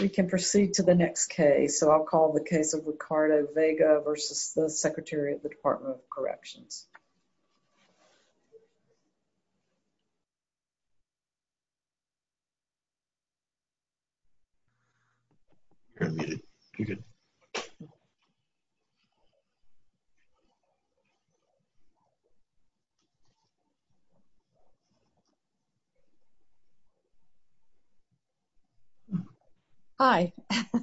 We can proceed to the next case so I'll call the case of Ricardo Vega versus the Secretary of the Department of Corrections. Hi,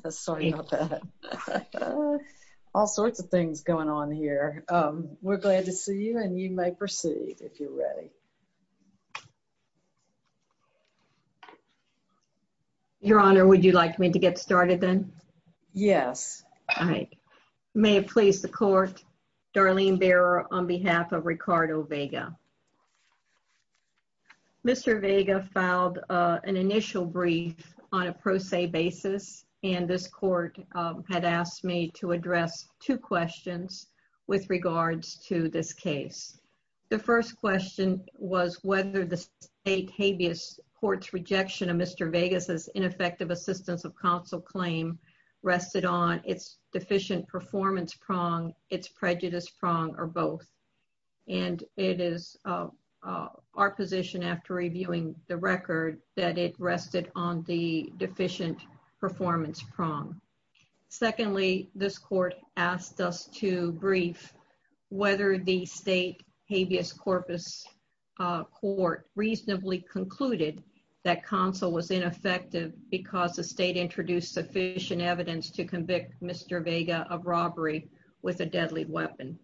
sorry about that. All sorts of things going on here. We're glad to see you and you may proceed if you're ready. Your Honor, would you like me to get started then? Yes. All right. May it please the court, Darlene Bearer on behalf of Ricardo Vega. Mr. Vega filed an initial brief on a pro se basis and this court had asked me to address two questions with regards to this case. The first question was whether the state habeas court's rejection of Mr. Vega's ineffective assistance of counsel claim rested on its deficient performance prong, its prejudice prong or both. And it is our position after reviewing the record that it rested on the deficient performance prong. Secondly, this court asked us to brief whether the state habeas corpus court reasonably concluded that counsel was ineffective because the state introduced sufficient evidence to convict Mr. Vega of robbery with a deadly weapon.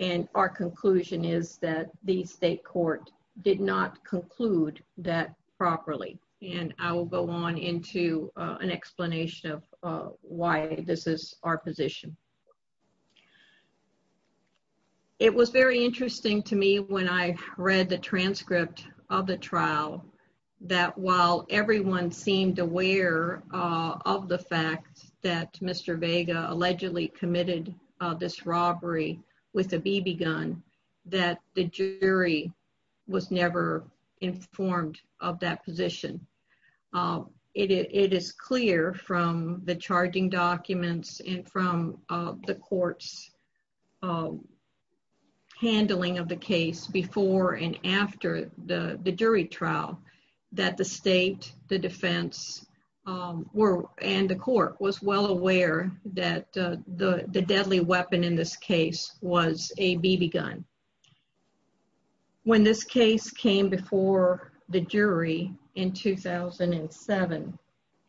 And our conclusion is that the state court did not conclude that properly. And I will go on into an explanation of why this is our position. It was very interesting to me when I read the transcript of the trial that while everyone seemed aware of the fact that Mr. Vega allegedly committed this robbery with a BB gun, that the jury was never informed of that position. It is clear from the charging documents and from the court's handling of the case before and after the jury trial that the state, the defense, and the court was well aware that the deadly weapon in this case was a BB gun. When this case came before the jury in 2007,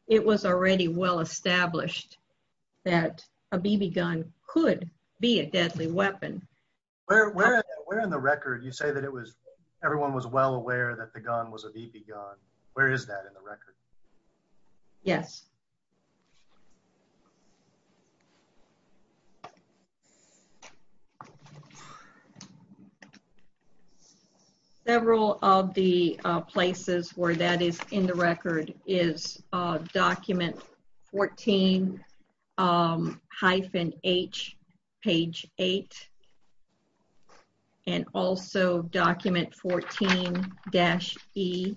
it was already well established that a BB gun could be a deadly weapon. Where in the record do you say that it was, everyone was well aware that the gun was a BB gun? Where is that in the record? Yes. Several of the places where that is in the record is document 14-H, page 8, and also document 14-E.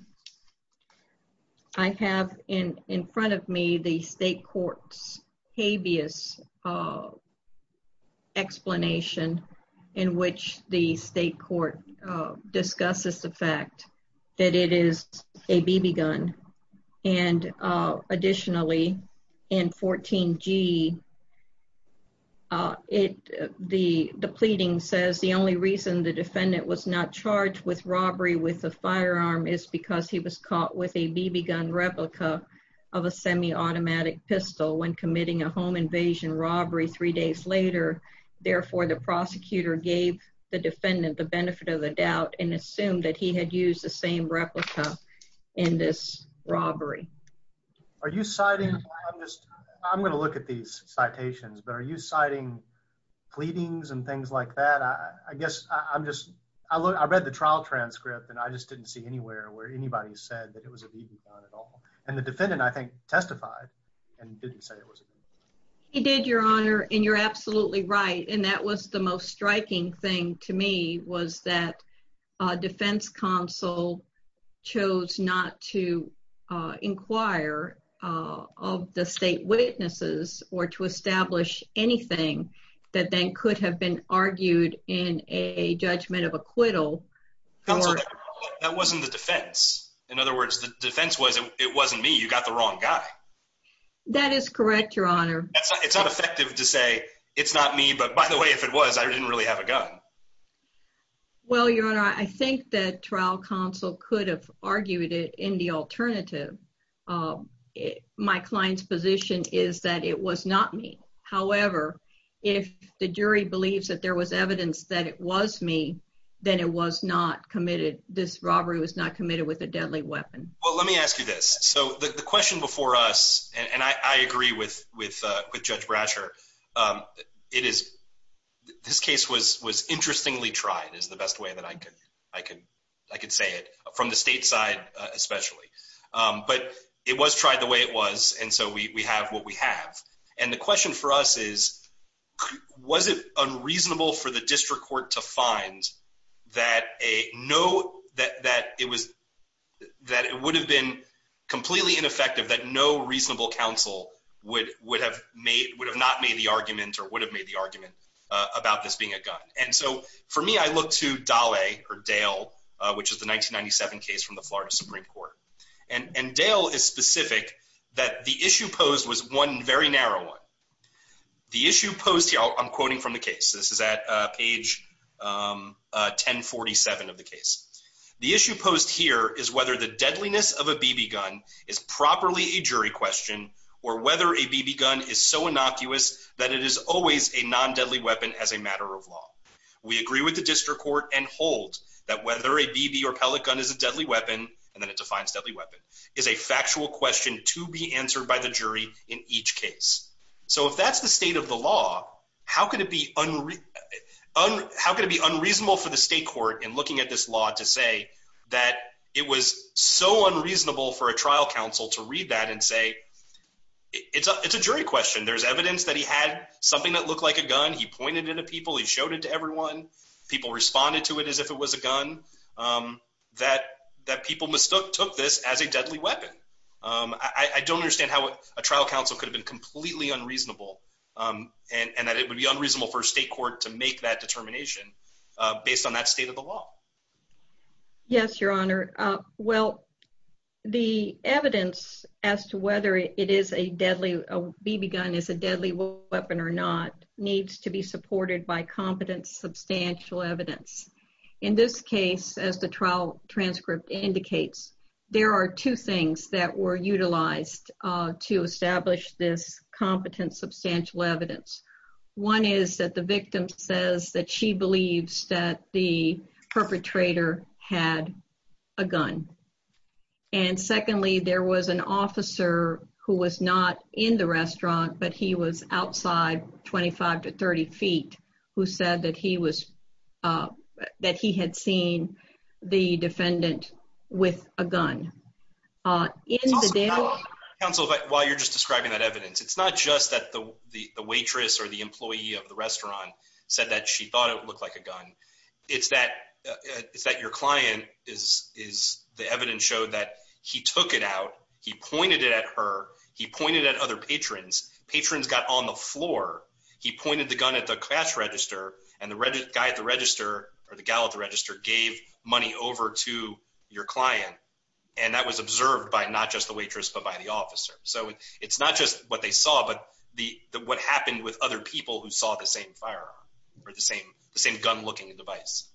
I have in front of me the state court's habeas explanation in which the state court discusses the fact that it is a BB gun. And additionally, in 14-G, the pleading says the only reason the defendant was not charged with robbery with a firearm is because he was caught with a BB gun replica of a semi-automatic pistol when committing a home invasion robbery three days later. Therefore, the prosecutor gave the defendant the benefit of the doubt and assumed that he had used the same replica in this robbery. Are you citing, I'm going to look at these citations, but are you citing pleadings and things like that? I guess I'm just, I read the trial transcript and I just didn't see anywhere where anybody said that it was a BB gun at all. And the defendant, I think, testified and didn't say it was a BB gun. He did, your honor, and you're absolutely right. And that was the most striking thing to me was that a defense counsel chose not to inquire of the state witnesses or to establish anything that then could have been argued in a judgment of acquittal. That wasn't the defense. In other words, the defense was, it wasn't me, you got the wrong guy. That is correct, your honor. It's not effective to say, it's not me, but by the way, if it was, I didn't really have a gun. Well, your honor, I think that trial counsel could have argued it in the alternative. My client's position is that it was not me. However, if the jury believes that there was evidence that it was me, then it was not committed. This robbery was not committed with a deadly weapon. Well, let me ask you this. So the question before us, and I agree with Judge Brasher, this case was interestingly tried is the best way that I could say it, from the state side especially. But it was tried the way it was, and so we have what we have. And the question for us is, was it unreasonable for the district court to find that it would have been completely ineffective, that no reasonable counsel would have not made the argument or would have made the argument about this being a gun? And so for me, I look to Daley or Dale, which is the 1997 case from the Florida Supreme Court. And Dale is specific that the issue posed was one very narrow one. The issue posed here, I'm quoting from the case, this is at page 1047 of the case. The issue posed here is whether the deadliness of a BB gun is properly a jury question or whether a BB gun is so innocuous that it is always a non-deadly weapon as a matter of law. We agree with the district court and hold that whether a BB or pellet gun is a deadly weapon, and then it defines deadly weapon, is a factual question to be answered by the jury in each case. So if that's the state of the law, how could it be unreasonable for the state court in the state of the law to say that it was so unreasonable for a trial counsel to read that and say, it's a jury question. There's evidence that he had something that looked like a gun. He pointed it at people. He showed it to everyone. People responded to it as if it was a gun, that people mistook this as a deadly weapon. I don't understand how a trial counsel could have been completely unreasonable and that it would be unreasonable for a state court to make that determination based on that state of the law. Yes, Your Honor. Well, the evidence as to whether it is a deadly, a BB gun is a deadly weapon or not needs to be supported by competent substantial evidence. In this case, as the trial transcript indicates, there are two things that were utilized to establish this competent substantial evidence. One is that the victim says that she believes that the perpetrator had a gun. And secondly, there was an officer who was not in the restaurant, but he was outside 25 to 30 feet, who said that he was, that he had seen the defendant with a gun. Counsel, while you're just describing that evidence, it's not just that the waitress or the employee of the restaurant said that she thought it looked like a gun. It's that, it's that your client is, is the evidence showed that he took it out. He pointed it at her. He pointed at other patrons, patrons got on the floor. He pointed the gun at the cash register and the guy at the register or the gal at the And that was observed by not just the waitress, but by the officer. So it's not just what they saw, but the, the, what happened with other people who saw the same firearm or the same, the same gun looking device.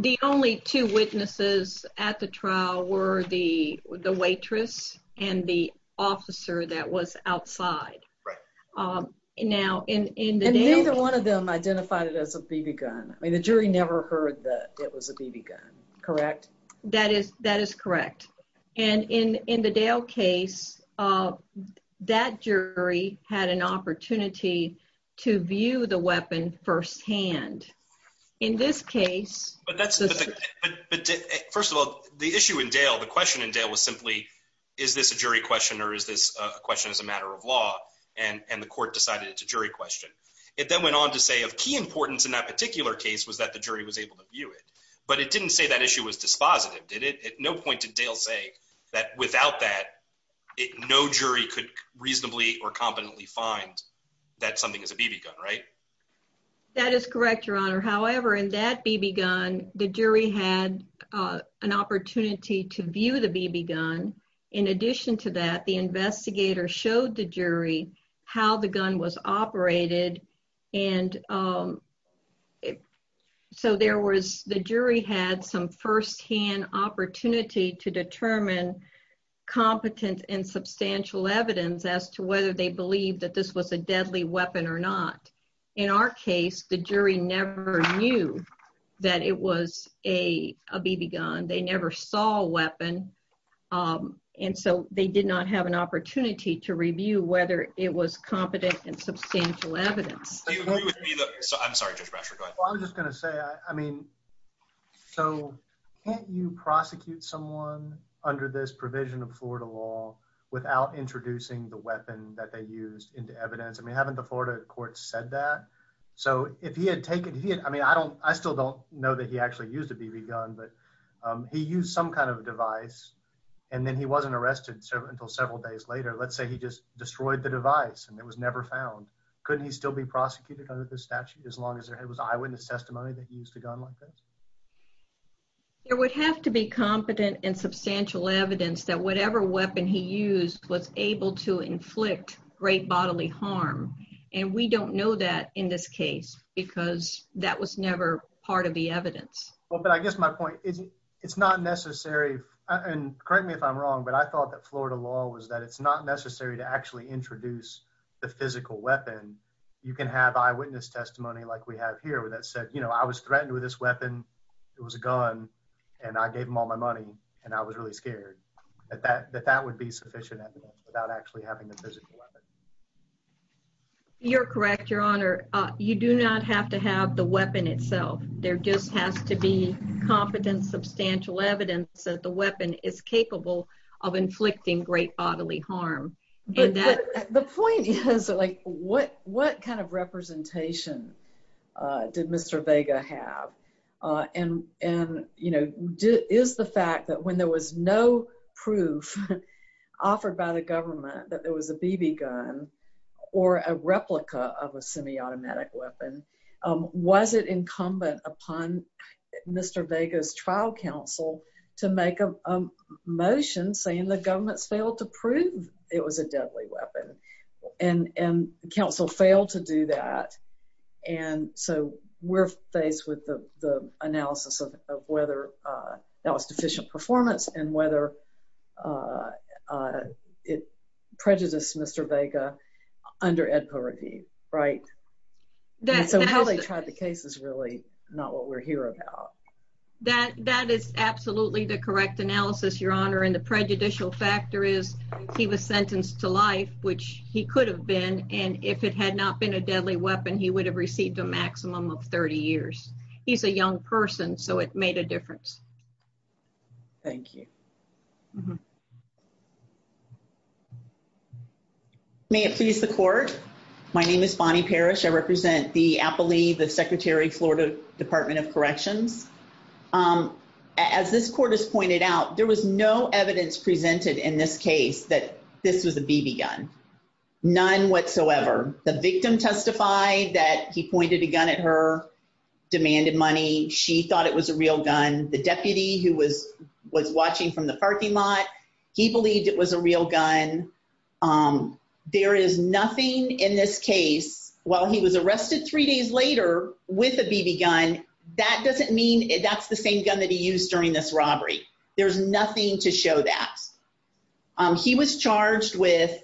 The only two witnesses at the trial were the, the waitress and the officer that was outside. Right. Um, and now in, in the, neither one of them identified it as a BB gun. I mean, the jury never heard that it was a BB gun, correct? That is, that is correct. And in, in the Dale case, uh, that jury had an opportunity to view the weapon firsthand. In this case. But that's the thing. But first of all, the issue in Dale, the question in Dale was simply, is this a jury question or is this a question as a matter of law? And the court decided it's a jury question. It then went on to say of key importance in that particular case was that the jury was able to view it. But it didn't say that issue was dispositive, did it? At no point did Dale say that without that, no jury could reasonably or competently find that something is a BB gun, right? That is correct. Your honor. However, in that BB gun, the jury had, uh, an opportunity to view the BB gun. In addition to that, the investigator showed the jury how the gun was operated. And, um, so there was, the jury had some firsthand opportunity to determine competent and substantial evidence as to whether they believe that this was a deadly weapon or not. In our case, the jury never knew that it was a BB gun. They never saw a weapon. And so they did not have an opportunity to review whether it was competent and substantial evidence. Do you agree with me? I'm sorry, Judge Brasher, go ahead. Well, I'm just going to say, I mean, so can't you prosecute someone under this provision of Florida law without introducing the weapon that they used into evidence? I mean, haven't the Florida court said that? So if he had taken, he had, I mean, I don't, I still don't know that he actually used a BB gun, but, um, he used some kind of device and then he wasn't arrested until several days later. Let's say he just destroyed the device and it was never found. Couldn't he still be prosecuted under the statute as long as their head was eyewitness testimony that he used a gun like this? There would have to be competent and substantial evidence that whatever weapon he used was able to inflict great bodily harm. And we don't know that in this case, because that was never part of the evidence. Well, but I guess my point is it's not necessary and correct me if I'm wrong, but I thought that Florida law was that it's not necessary to actually introduce the physical weapon. You can have eyewitness testimony like we have here where that said, you know, I was threatened with this weapon. It was a gun and I gave him all my money and I was really scared that that, that that would be sufficient evidence without actually having the physical weapon. You're correct. Your honor, you do not have to have the weapon itself. There just has to be competent, substantial evidence that the weapon is capable of inflicting great bodily harm. The point is like what, what kind of representation did Mr. Vega have and, and, you know, is the fact that when there was no proof offered by the government that there was a BB gun or a replica of a semi-automatic weapon, was it incumbent upon Mr. Vega's trial counsel to make a motion saying the government's failed to prove it was a deadly weapon and, and counsel failed to do that. And so we're faced with the analysis of, of whether that was deficient performance and whether it prejudiced Mr. Vega under Ed Poverty, right? So how they tried the case is really not what we're here about. That is absolutely the correct analysis, your honor. And the prejudicial factor is he was sentenced to life, which he could have been. And if it had not been a deadly weapon, he would have received a maximum of 30 years. He's a young person. So it made a difference. Thank you. May it please the court. My name is Bonnie Parrish. I represent the appellee, the secretary, Florida department of corrections. As this court has pointed out, there was no evidence presented in this case that this was a BB gun, none whatsoever. The victim testified that he pointed a gun at her, demanded money. She thought it was a real gun. The deputy who was watching from the parking lot, he believed it was a real gun. There is nothing in this case, while he was arrested three days later with a BB gun, that doesn't mean that's the same gun that he used during this robbery. There's nothing to show that. He was charged with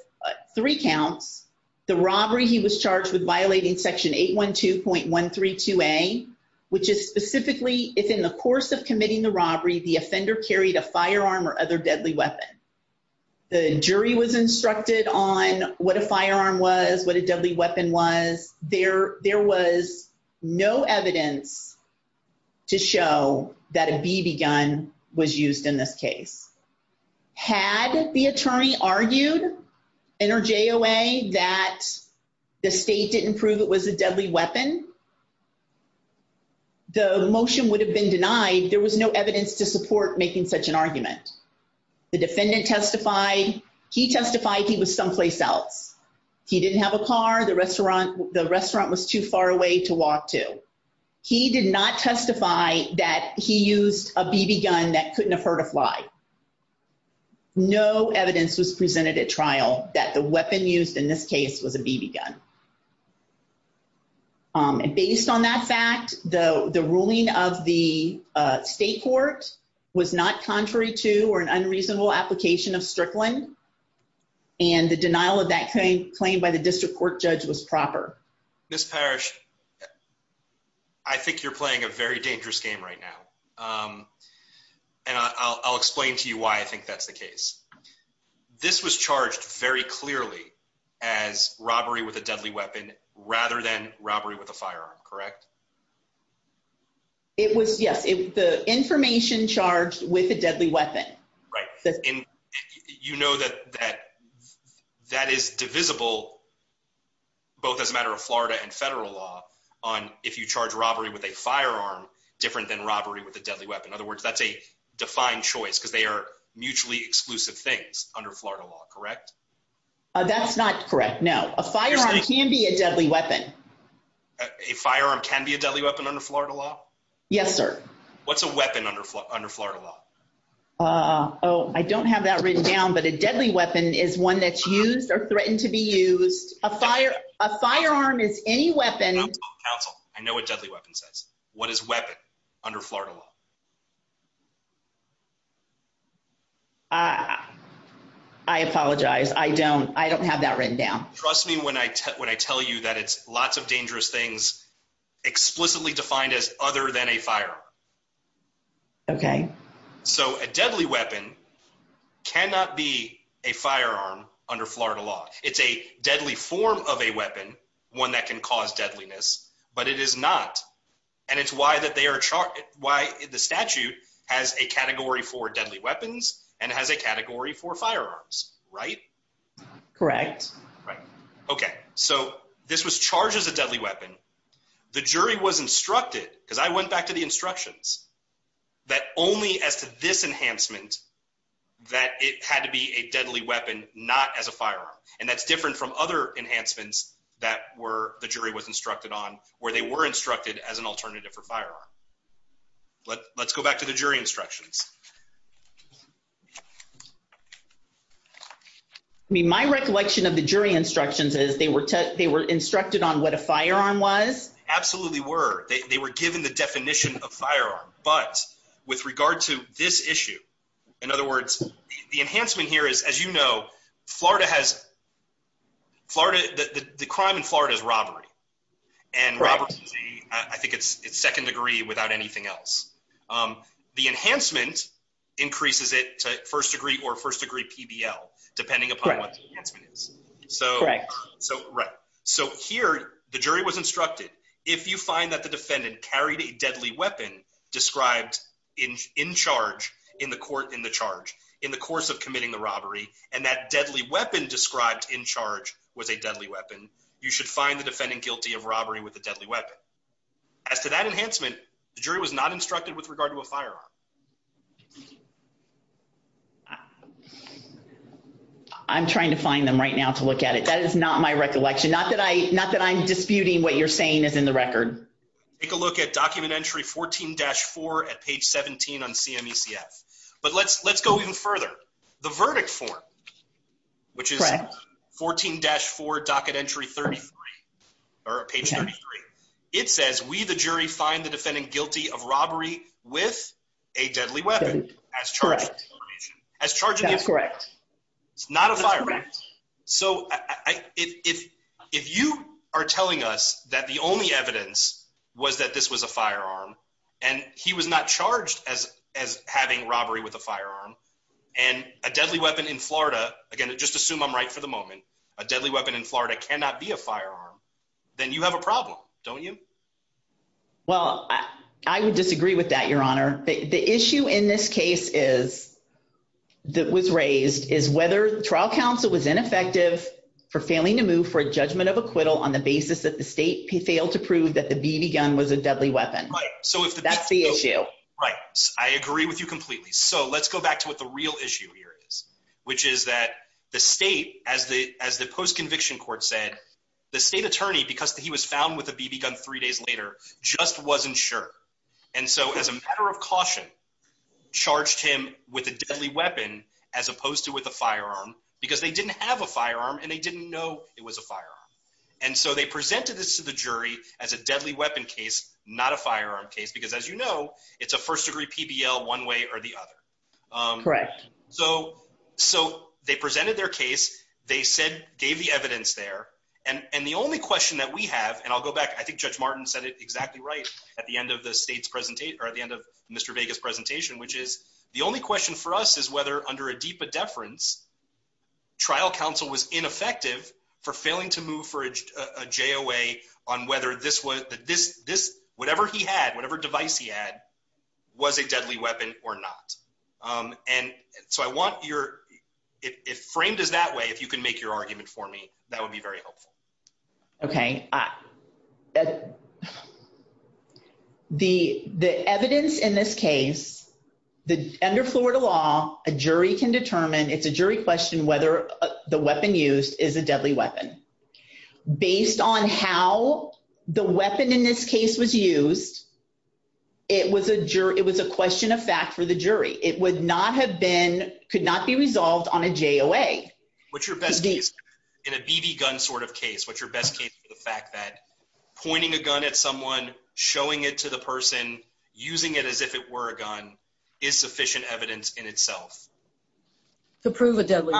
three counts. The robbery he was charged with violating section 812.132A, which is specifically if in the course of committing the robbery, the offender carried a firearm or other deadly weapon. The jury was instructed on what a firearm was, what a deadly weapon was. There was no evidence to show that a BB gun was used in this case. Had the attorney argued in her JOA that the state didn't prove it was a deadly weapon, the motion would have been denied. There was no evidence to support making such an argument. The defendant testified. He testified he was someplace else. He didn't have a car. The restaurant was too far away to walk to. He did not testify that he used a BB gun that couldn't have hurt a fly. No evidence was presented at trial that the weapon used in this case was a BB gun. Based on that fact, the ruling of the state court was not contrary to or an unreasonable application of Strickland, and the denial of that claim by the district court judge was proper. Ms. Parrish, I think you're playing a very dangerous game right now, and I'll explain to you why I think that's the case. This was charged very clearly as robbery with a deadly weapon, rather than robbery with a firearm, correct? It was, yes. The information charged with a deadly weapon. Right. And you know that that is divisible, both as a matter of Florida and federal law, on if you charge robbery with a firearm different than robbery with a deadly weapon. In other words, that's a defined choice because they are mutually exclusive things under Florida law, correct? That's not correct, no. A firearm can be a deadly weapon. A firearm can be a deadly weapon under Florida law? Yes, sir. What's a weapon under Florida law? Oh, I don't have that written down, but a deadly weapon is one that's used or threatened to be used. A firearm is any weapon- Counsel, I know what deadly weapon says. What is weapon under Florida law? I apologize. I don't have that written down. Trust me when I tell you that it's lots of dangerous things explicitly defined as other than a firearm. Okay. So, a deadly weapon cannot be a firearm under Florida law. It's a deadly form of a weapon, one that can cause deadliness, but it is not. And it's why the statute has a category for deadly weapons and has a category for firearms, right? Correct. Right. Okay. So, this was charged as a deadly weapon. The jury was instructed, because I went back to the instructions, that only as to this enhancement that it had to be a deadly weapon, not as a firearm. And that's different from other enhancements that the jury was instructed on, where they were instructed as an alternative for firearm. Let's go back to the jury instructions. I mean, my recollection of the jury instructions is they were instructed on what a firearm was? Absolutely were. They were given the definition of firearm. But with regard to this issue, in other words, the enhancement here is, as you know, Florida has, the crime in Florida is robbery. And robbery, I think it's second degree without anything else. The enhancement increases it to first degree or first degree PBL, depending upon what the enhancement is. Correct. So, right. So, here, the jury was instructed, if you find that the defendant carried a deadly weapon described in charge in the court, in the charge, in the course of committing the robbery, and that deadly weapon described in charge was a deadly weapon, you should find the defendant guilty of robbery with a deadly weapon. But as to that enhancement, the jury was not instructed with regard to a firearm. I'm trying to find them right now to look at it. That is not my recollection. Not that I not that I'm disputing what you're saying is in the record. Take a look at document entry 14-4 at page 17 on CMECF. But let's let's go even further. The verdict form, which is 14-4, docket entry 33, or page 33, it says we the jury find the defendant guilty of robbery with a deadly weapon as charged. As charged. That's correct. It's not a firearm. So if you are telling us that the only evidence was that this was a firearm, and he was not And a deadly weapon in Florida, again, just assume I'm right for the moment, a deadly weapon in Florida cannot be a firearm, then you have a problem, don't you? Well, I would disagree with that, Your Honor, the issue in this case is that was raised is whether the trial counsel was ineffective for failing to move for a judgment of acquittal on the basis that the state failed to prove that the BB gun was a deadly weapon. So if that's the issue, right, I agree with you completely. So let's go back to what the real issue here is, which is that the state as the as the post conviction court said, the state attorney, because he was found with a BB gun three days later, just wasn't sure. And so as a matter of caution, charged him with a deadly weapon, as opposed to with a firearm, because they didn't have a firearm, and they didn't know it was a firearm. And so they presented this to the jury as a deadly weapon case, not a firearm case, because as you know, it's a first degree PBL one way or the other. Correct. So, so they presented their case, they said gave the evidence there. And the only question that we have, and I'll go back, I think Judge Martin said it exactly right at the end of the state's presentation, or at the end of Mr. Vegas presentation, which is the only question for us is whether under a deep a deference, trial counsel was ineffective for failing to move for a jo way on whether this was this, this, whatever he had, whatever device he had, was a deadly weapon or not. And so I want your if frame does that way, if you can make your argument for me, that would be very helpful. Okay. The the evidence in this case, the under Florida law, a jury can determine it's a jury question whether the weapon used is a deadly weapon, based on how the weapon in this case was used. It was a juror, it was a question of fact for the jury, it would not have been could not be resolved on a jo way, which your best case in a BB gun sort of case, what's your best case for the fact that pointing a gun at someone showing it to the person using it as if it were a gun is sufficient evidence in itself. To prove a deadly,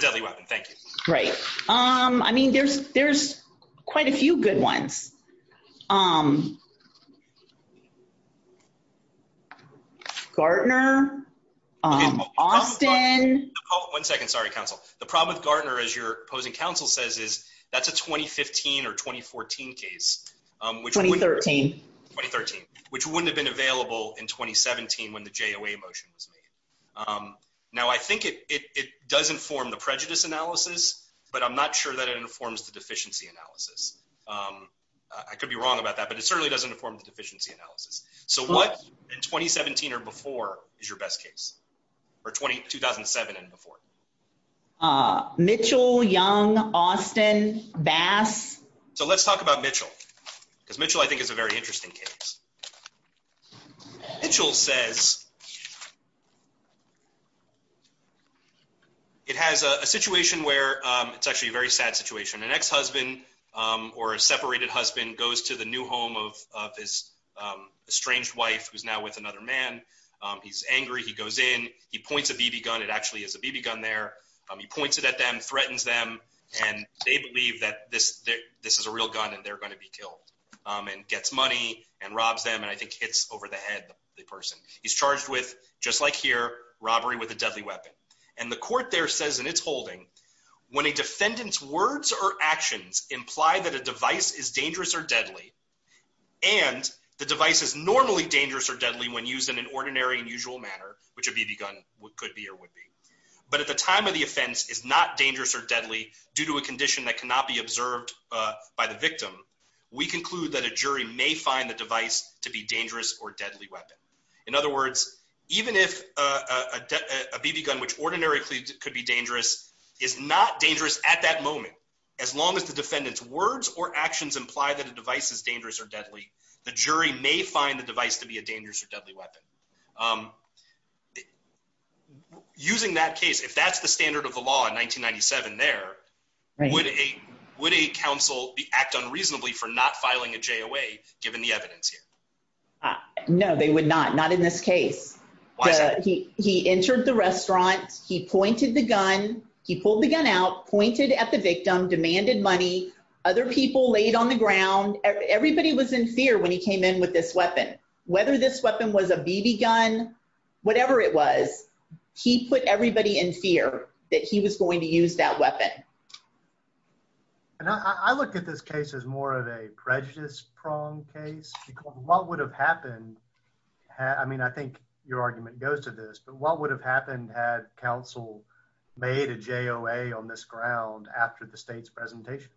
deadly weapon. Thank you. Right. Um, I mean, there's, there's quite a few good ones. Um, Gardner, Austin, one second, sorry, counsel, the problem with Gardner, as your opposing counsel says is, that's a 2015 or 2014 case, which 2013 2013, which wouldn't have been available in 2017, when the jo a motion was made. Now, I think it doesn't form the prejudice analysis, but I'm not sure that it informs the deficiency analysis. I could be wrong about that. But it certainly doesn't inform the deficiency analysis. So what in 2017, or before is your best case, or 20 2007, and before Mitchell young, Austin bass. So let's talk about Mitchell, because Mitchell, I think, is a very interesting case. Mitchell says it has a situation where it's actually a very sad situation, an ex husband, or a separated husband goes to the new home of his estranged wife, who's now with another man, he's angry, he goes in, he points a BB gun, it actually is a BB gun there, he points it at them, threatens them, and they believe that this, this is a real gun, and they're going to be killed, and gets money and robs them. And I think it's over the head, the person he's charged with, just like here, robbery with a deadly weapon. And the court there says in its holding, when a defendant's words or actions imply that a device is dangerous or deadly, and the device is normally dangerous or deadly when used in an ordinary and usual manner, which a BB gun could be or would be, but at the time of the offense is not dangerous or deadly due to a condition that cannot be observed by the victim, we conclude that a jury may find the device to be dangerous or deadly weapon. In other words, even if a BB gun, which ordinarily could be dangerous, is not dangerous at that moment, as long as the defendant's words or actions imply that a device is dangerous or deadly, the jury may find the device to be a dangerous or deadly weapon. Um, using that case, if that's the standard of the law in 1997, there, would a would a counsel act unreasonably for not filing a J away, given the evidence here? No, they would not not in this case. He entered the restaurant, he pointed the gun, he pulled the gun out pointed at the victim demanded money, other people laid on the ground, everybody was in fear when he used a BB gun, whatever it was, he put everybody in fear that he was going to use that weapon. And I looked at this case is more of a prejudice prong case. What would have happened? I mean, I think your argument goes to this, but what would have happened had counsel made a J o a on this ground after the state's presentation?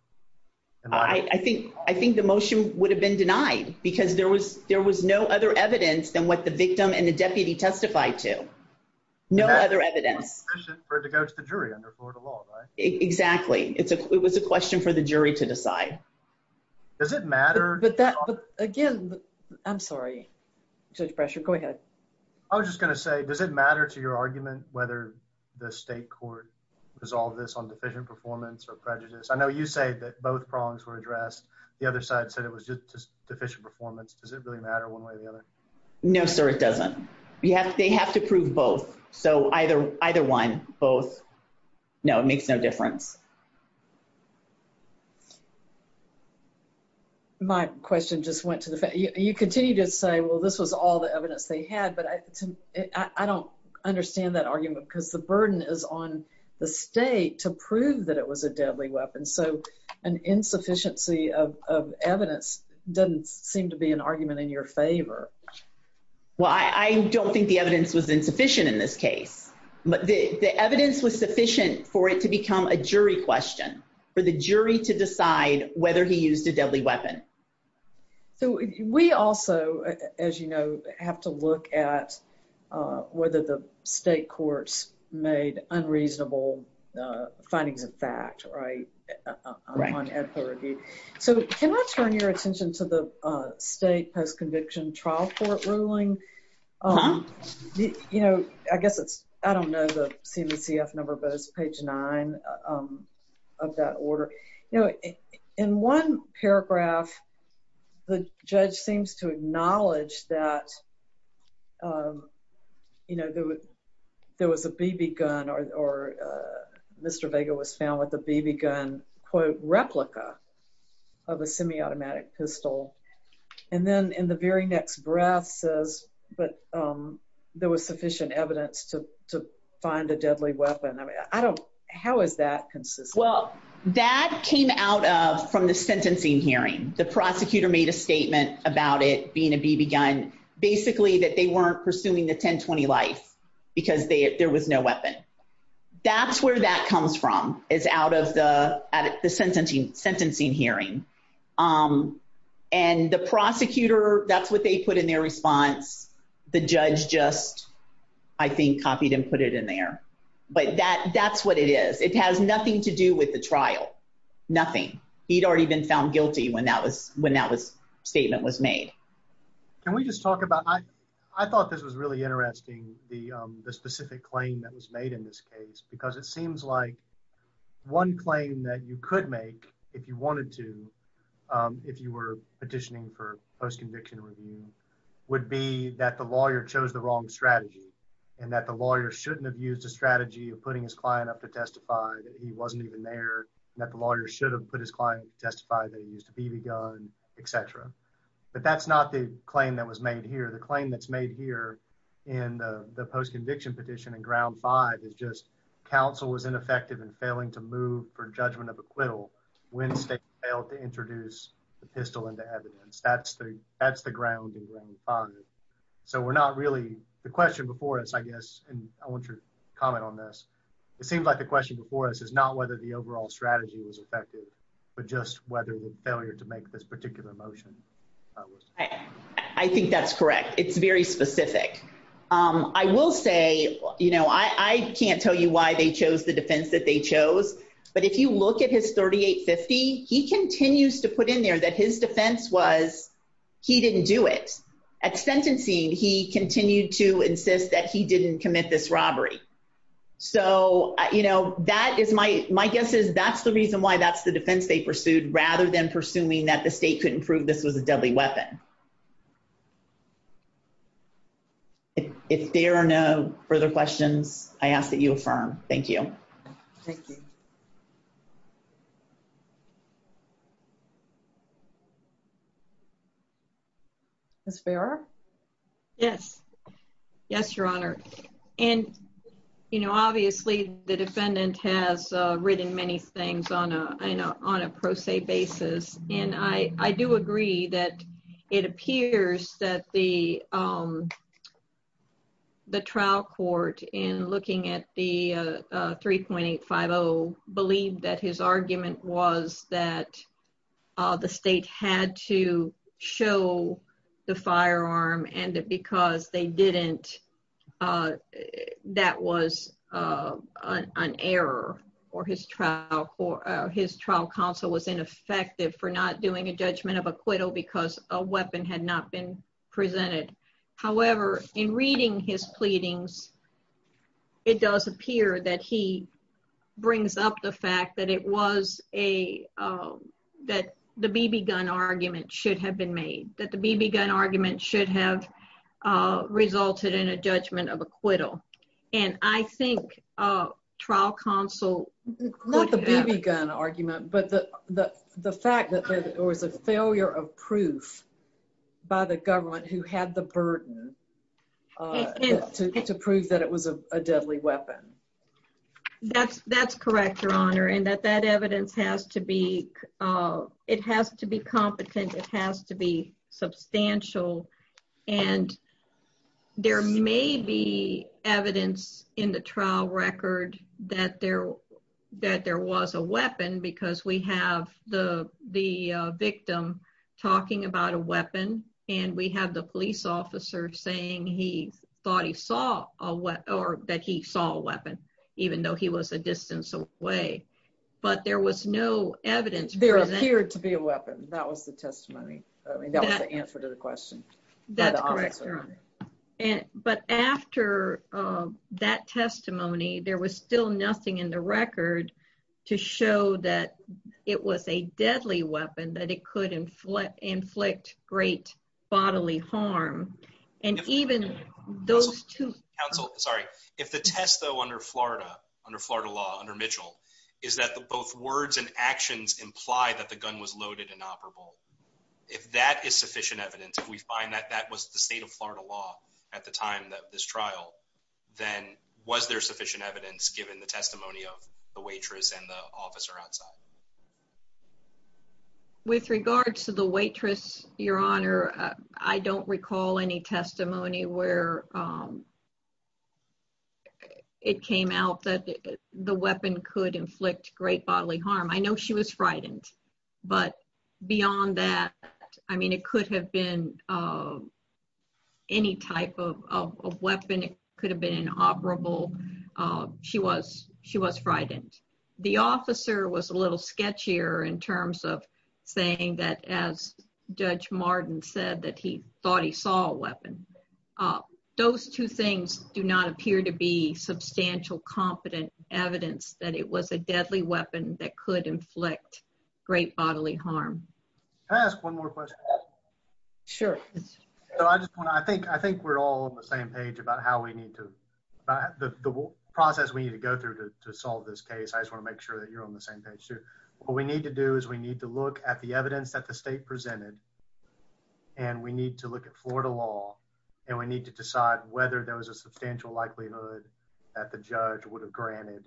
I think I think the motion would have been denied because there was there was no other evidence than what the victim and the deputy testified to. No other evidence for it to go to the jury under Florida law, right? Exactly. It's a it was a question for the jury to decide. Does it matter? But that again, I'm sorry, Judge pressure. Go ahead. I was just gonna say, does it matter to your argument whether the state court resolve this on deficient performance or prejudice? I know you say that both prongs were addressed. The other side said it was just deficient performance. Does it really matter one way or the other? No, sir, it doesn't. You have to they have to prove both. So either either one, both no, it makes no difference. My question just went to the fact you continue to say, well, this was all the evidence they had. But I don't understand that argument because the burden is on the state to prove that it was a deadly weapon. And so an insufficiency of evidence doesn't seem to be an argument in your favor. Well, I don't think the evidence was insufficient in this case, but the evidence was sufficient for it to become a jury question for the jury to decide whether he used a deadly weapon. So we also, as you know, have to look at whether the state courts made unreasonable findings of fact. Right. Right. So can I turn your attention to the state post-conviction trial court ruling? You know, I guess it's I don't know the CDCF number, but it's page nine of that order. In one paragraph, the judge seems to acknowledge that, you know, there was a BB gun or Mr. Vega was found with a BB gun, quote, replica of a semi-automatic pistol. And then in the very next breath says, but there was sufficient evidence to find a deadly weapon. I don't. How is that consistent? Well, that came out of from the sentencing hearing. The prosecutor made a statement about it being a BB gun, basically that they weren't pursuing the 10-20 life because there was no weapon. That's where that comes from is out of the at the sentencing, sentencing hearing. And the prosecutor, that's what they put in their response. The judge just, I think, copied and put it in there. But that that's what it is. It has nothing to do with the trial. Nothing. He'd already been found guilty when that was when that was statement was made. Can we just talk about I thought this was really interesting. The specific claim that was made in this case, because it seems like one claim that you could make if you wanted to, if you were petitioning for post-conviction review would be that the lawyer chose the wrong strategy and that the lawyer shouldn't have used a strategy of putting his client up to testify that he wasn't even there, that the lawyer should have put his client to testify that he used a BB gun, et cetera. But that's not the claim that was made here. The claim that's made here in the post-conviction petition in ground five is just counsel was ineffective in failing to move for judgment of acquittal when the state failed to introduce the pistol into evidence. That's the that's the ground in ground five. So we're not really the question before us, I guess, and I want your comment on this. It seems like the question before us is not whether the overall strategy was effective, but just whether the failure to make this particular motion. I think that's correct. It's very specific. I will say, you know, I can't tell you why they chose the defense that they chose. But if you look at his 3850, he continues to put in there that his defense was he didn't do it at sentencing. He continued to insist that he didn't commit this robbery. So, you know, that is my my guess is that's the reason why that's the defense they pursued rather than presuming that the state couldn't prove this was a deadly weapon. If there are no further questions, I ask that you affirm. Thank you. Thank you. That's fair. Yes. Yes, Your Honor. And, you know, obviously, the defendant has written many things on a I know on a pro se basis. And I do agree that it appears that the the trial court in looking at the 3.850 believed that his argument was that the state had to show the firearm and because they didn't. That was an error or his trial for his trial counsel was ineffective for not doing a judgment of acquittal because a weapon had not been presented. However, in reading his pleadings, it does appear that he brings up the fact that it was a that the BB gun argument should have been made that the BB gun argument should have resulted in a judgment of acquittal. And I think trial counsel not the BB gun argument, but the the fact that there was a failure of proof by the government who had the burden to prove that it was a deadly weapon. That's correct, Your Honor, and that that evidence has to be it has to be competent. It has to be substantial. And there may be evidence in the trial record that there that there was a weapon because we have the the victim talking about a weapon and we have the police officer saying he thought he saw a weapon or that he saw a weapon, even though he was a distance away. But there was no evidence there appeared to be a weapon. That was the testimony. I mean, that was the answer to the question. That's correct. But after that testimony, there was still nothing in the record to show that it was a deadly weapon that it could inflict inflict great bodily harm. And even those two counsel, sorry, if the test, though, under Florida, under Florida law under Mitchell, is that both words and actions imply that the gun was loaded inoperable. If that is sufficient evidence, if we find that that was the state of Florida law at the time that this trial, then was there sufficient evidence given the testimony of the waitress and the officer outside? With regards to the waitress, Your Honor, I don't recall any testimony where it came out that the weapon could inflict great bodily harm. I know she was frightened. But beyond that, I mean, it could have been any type of weapon. It could have been an operable. She was she was frightened. The officer was a little sketchier in terms of saying that, as Judge Martin said, that he thought he saw a weapon. Those two things do not appear to be substantial competent evidence that it was a deadly weapon that could inflict great bodily harm. Can I ask one more question? Sure. I just want to I think I think we're all on the same page about how we need to the process we need to go through to solve this case. I just want to make sure that you're on the same page, too. What we need to do is we need to look at the evidence that the state presented. And we need to look at Florida law. And we need to decide whether there was a substantial likelihood that the judge would have granted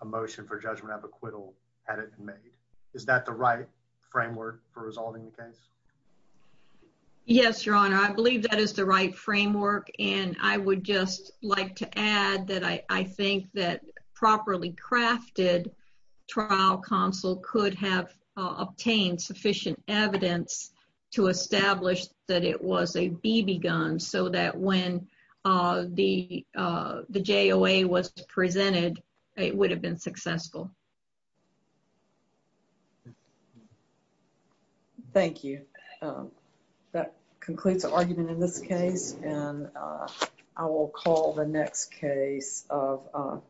a motion for judgment of acquittal had it been made. Is that the right framework for resolving the case? Yes, Your Honor, I believe that is the right framework. And I would just like to add that I think that properly crafted trial counsel could have obtained sufficient evidence to establish that it was a BB gun so that when the JOA was presented, it would have been successful. Thank you. That concludes the argument in this case. And I will call the next case of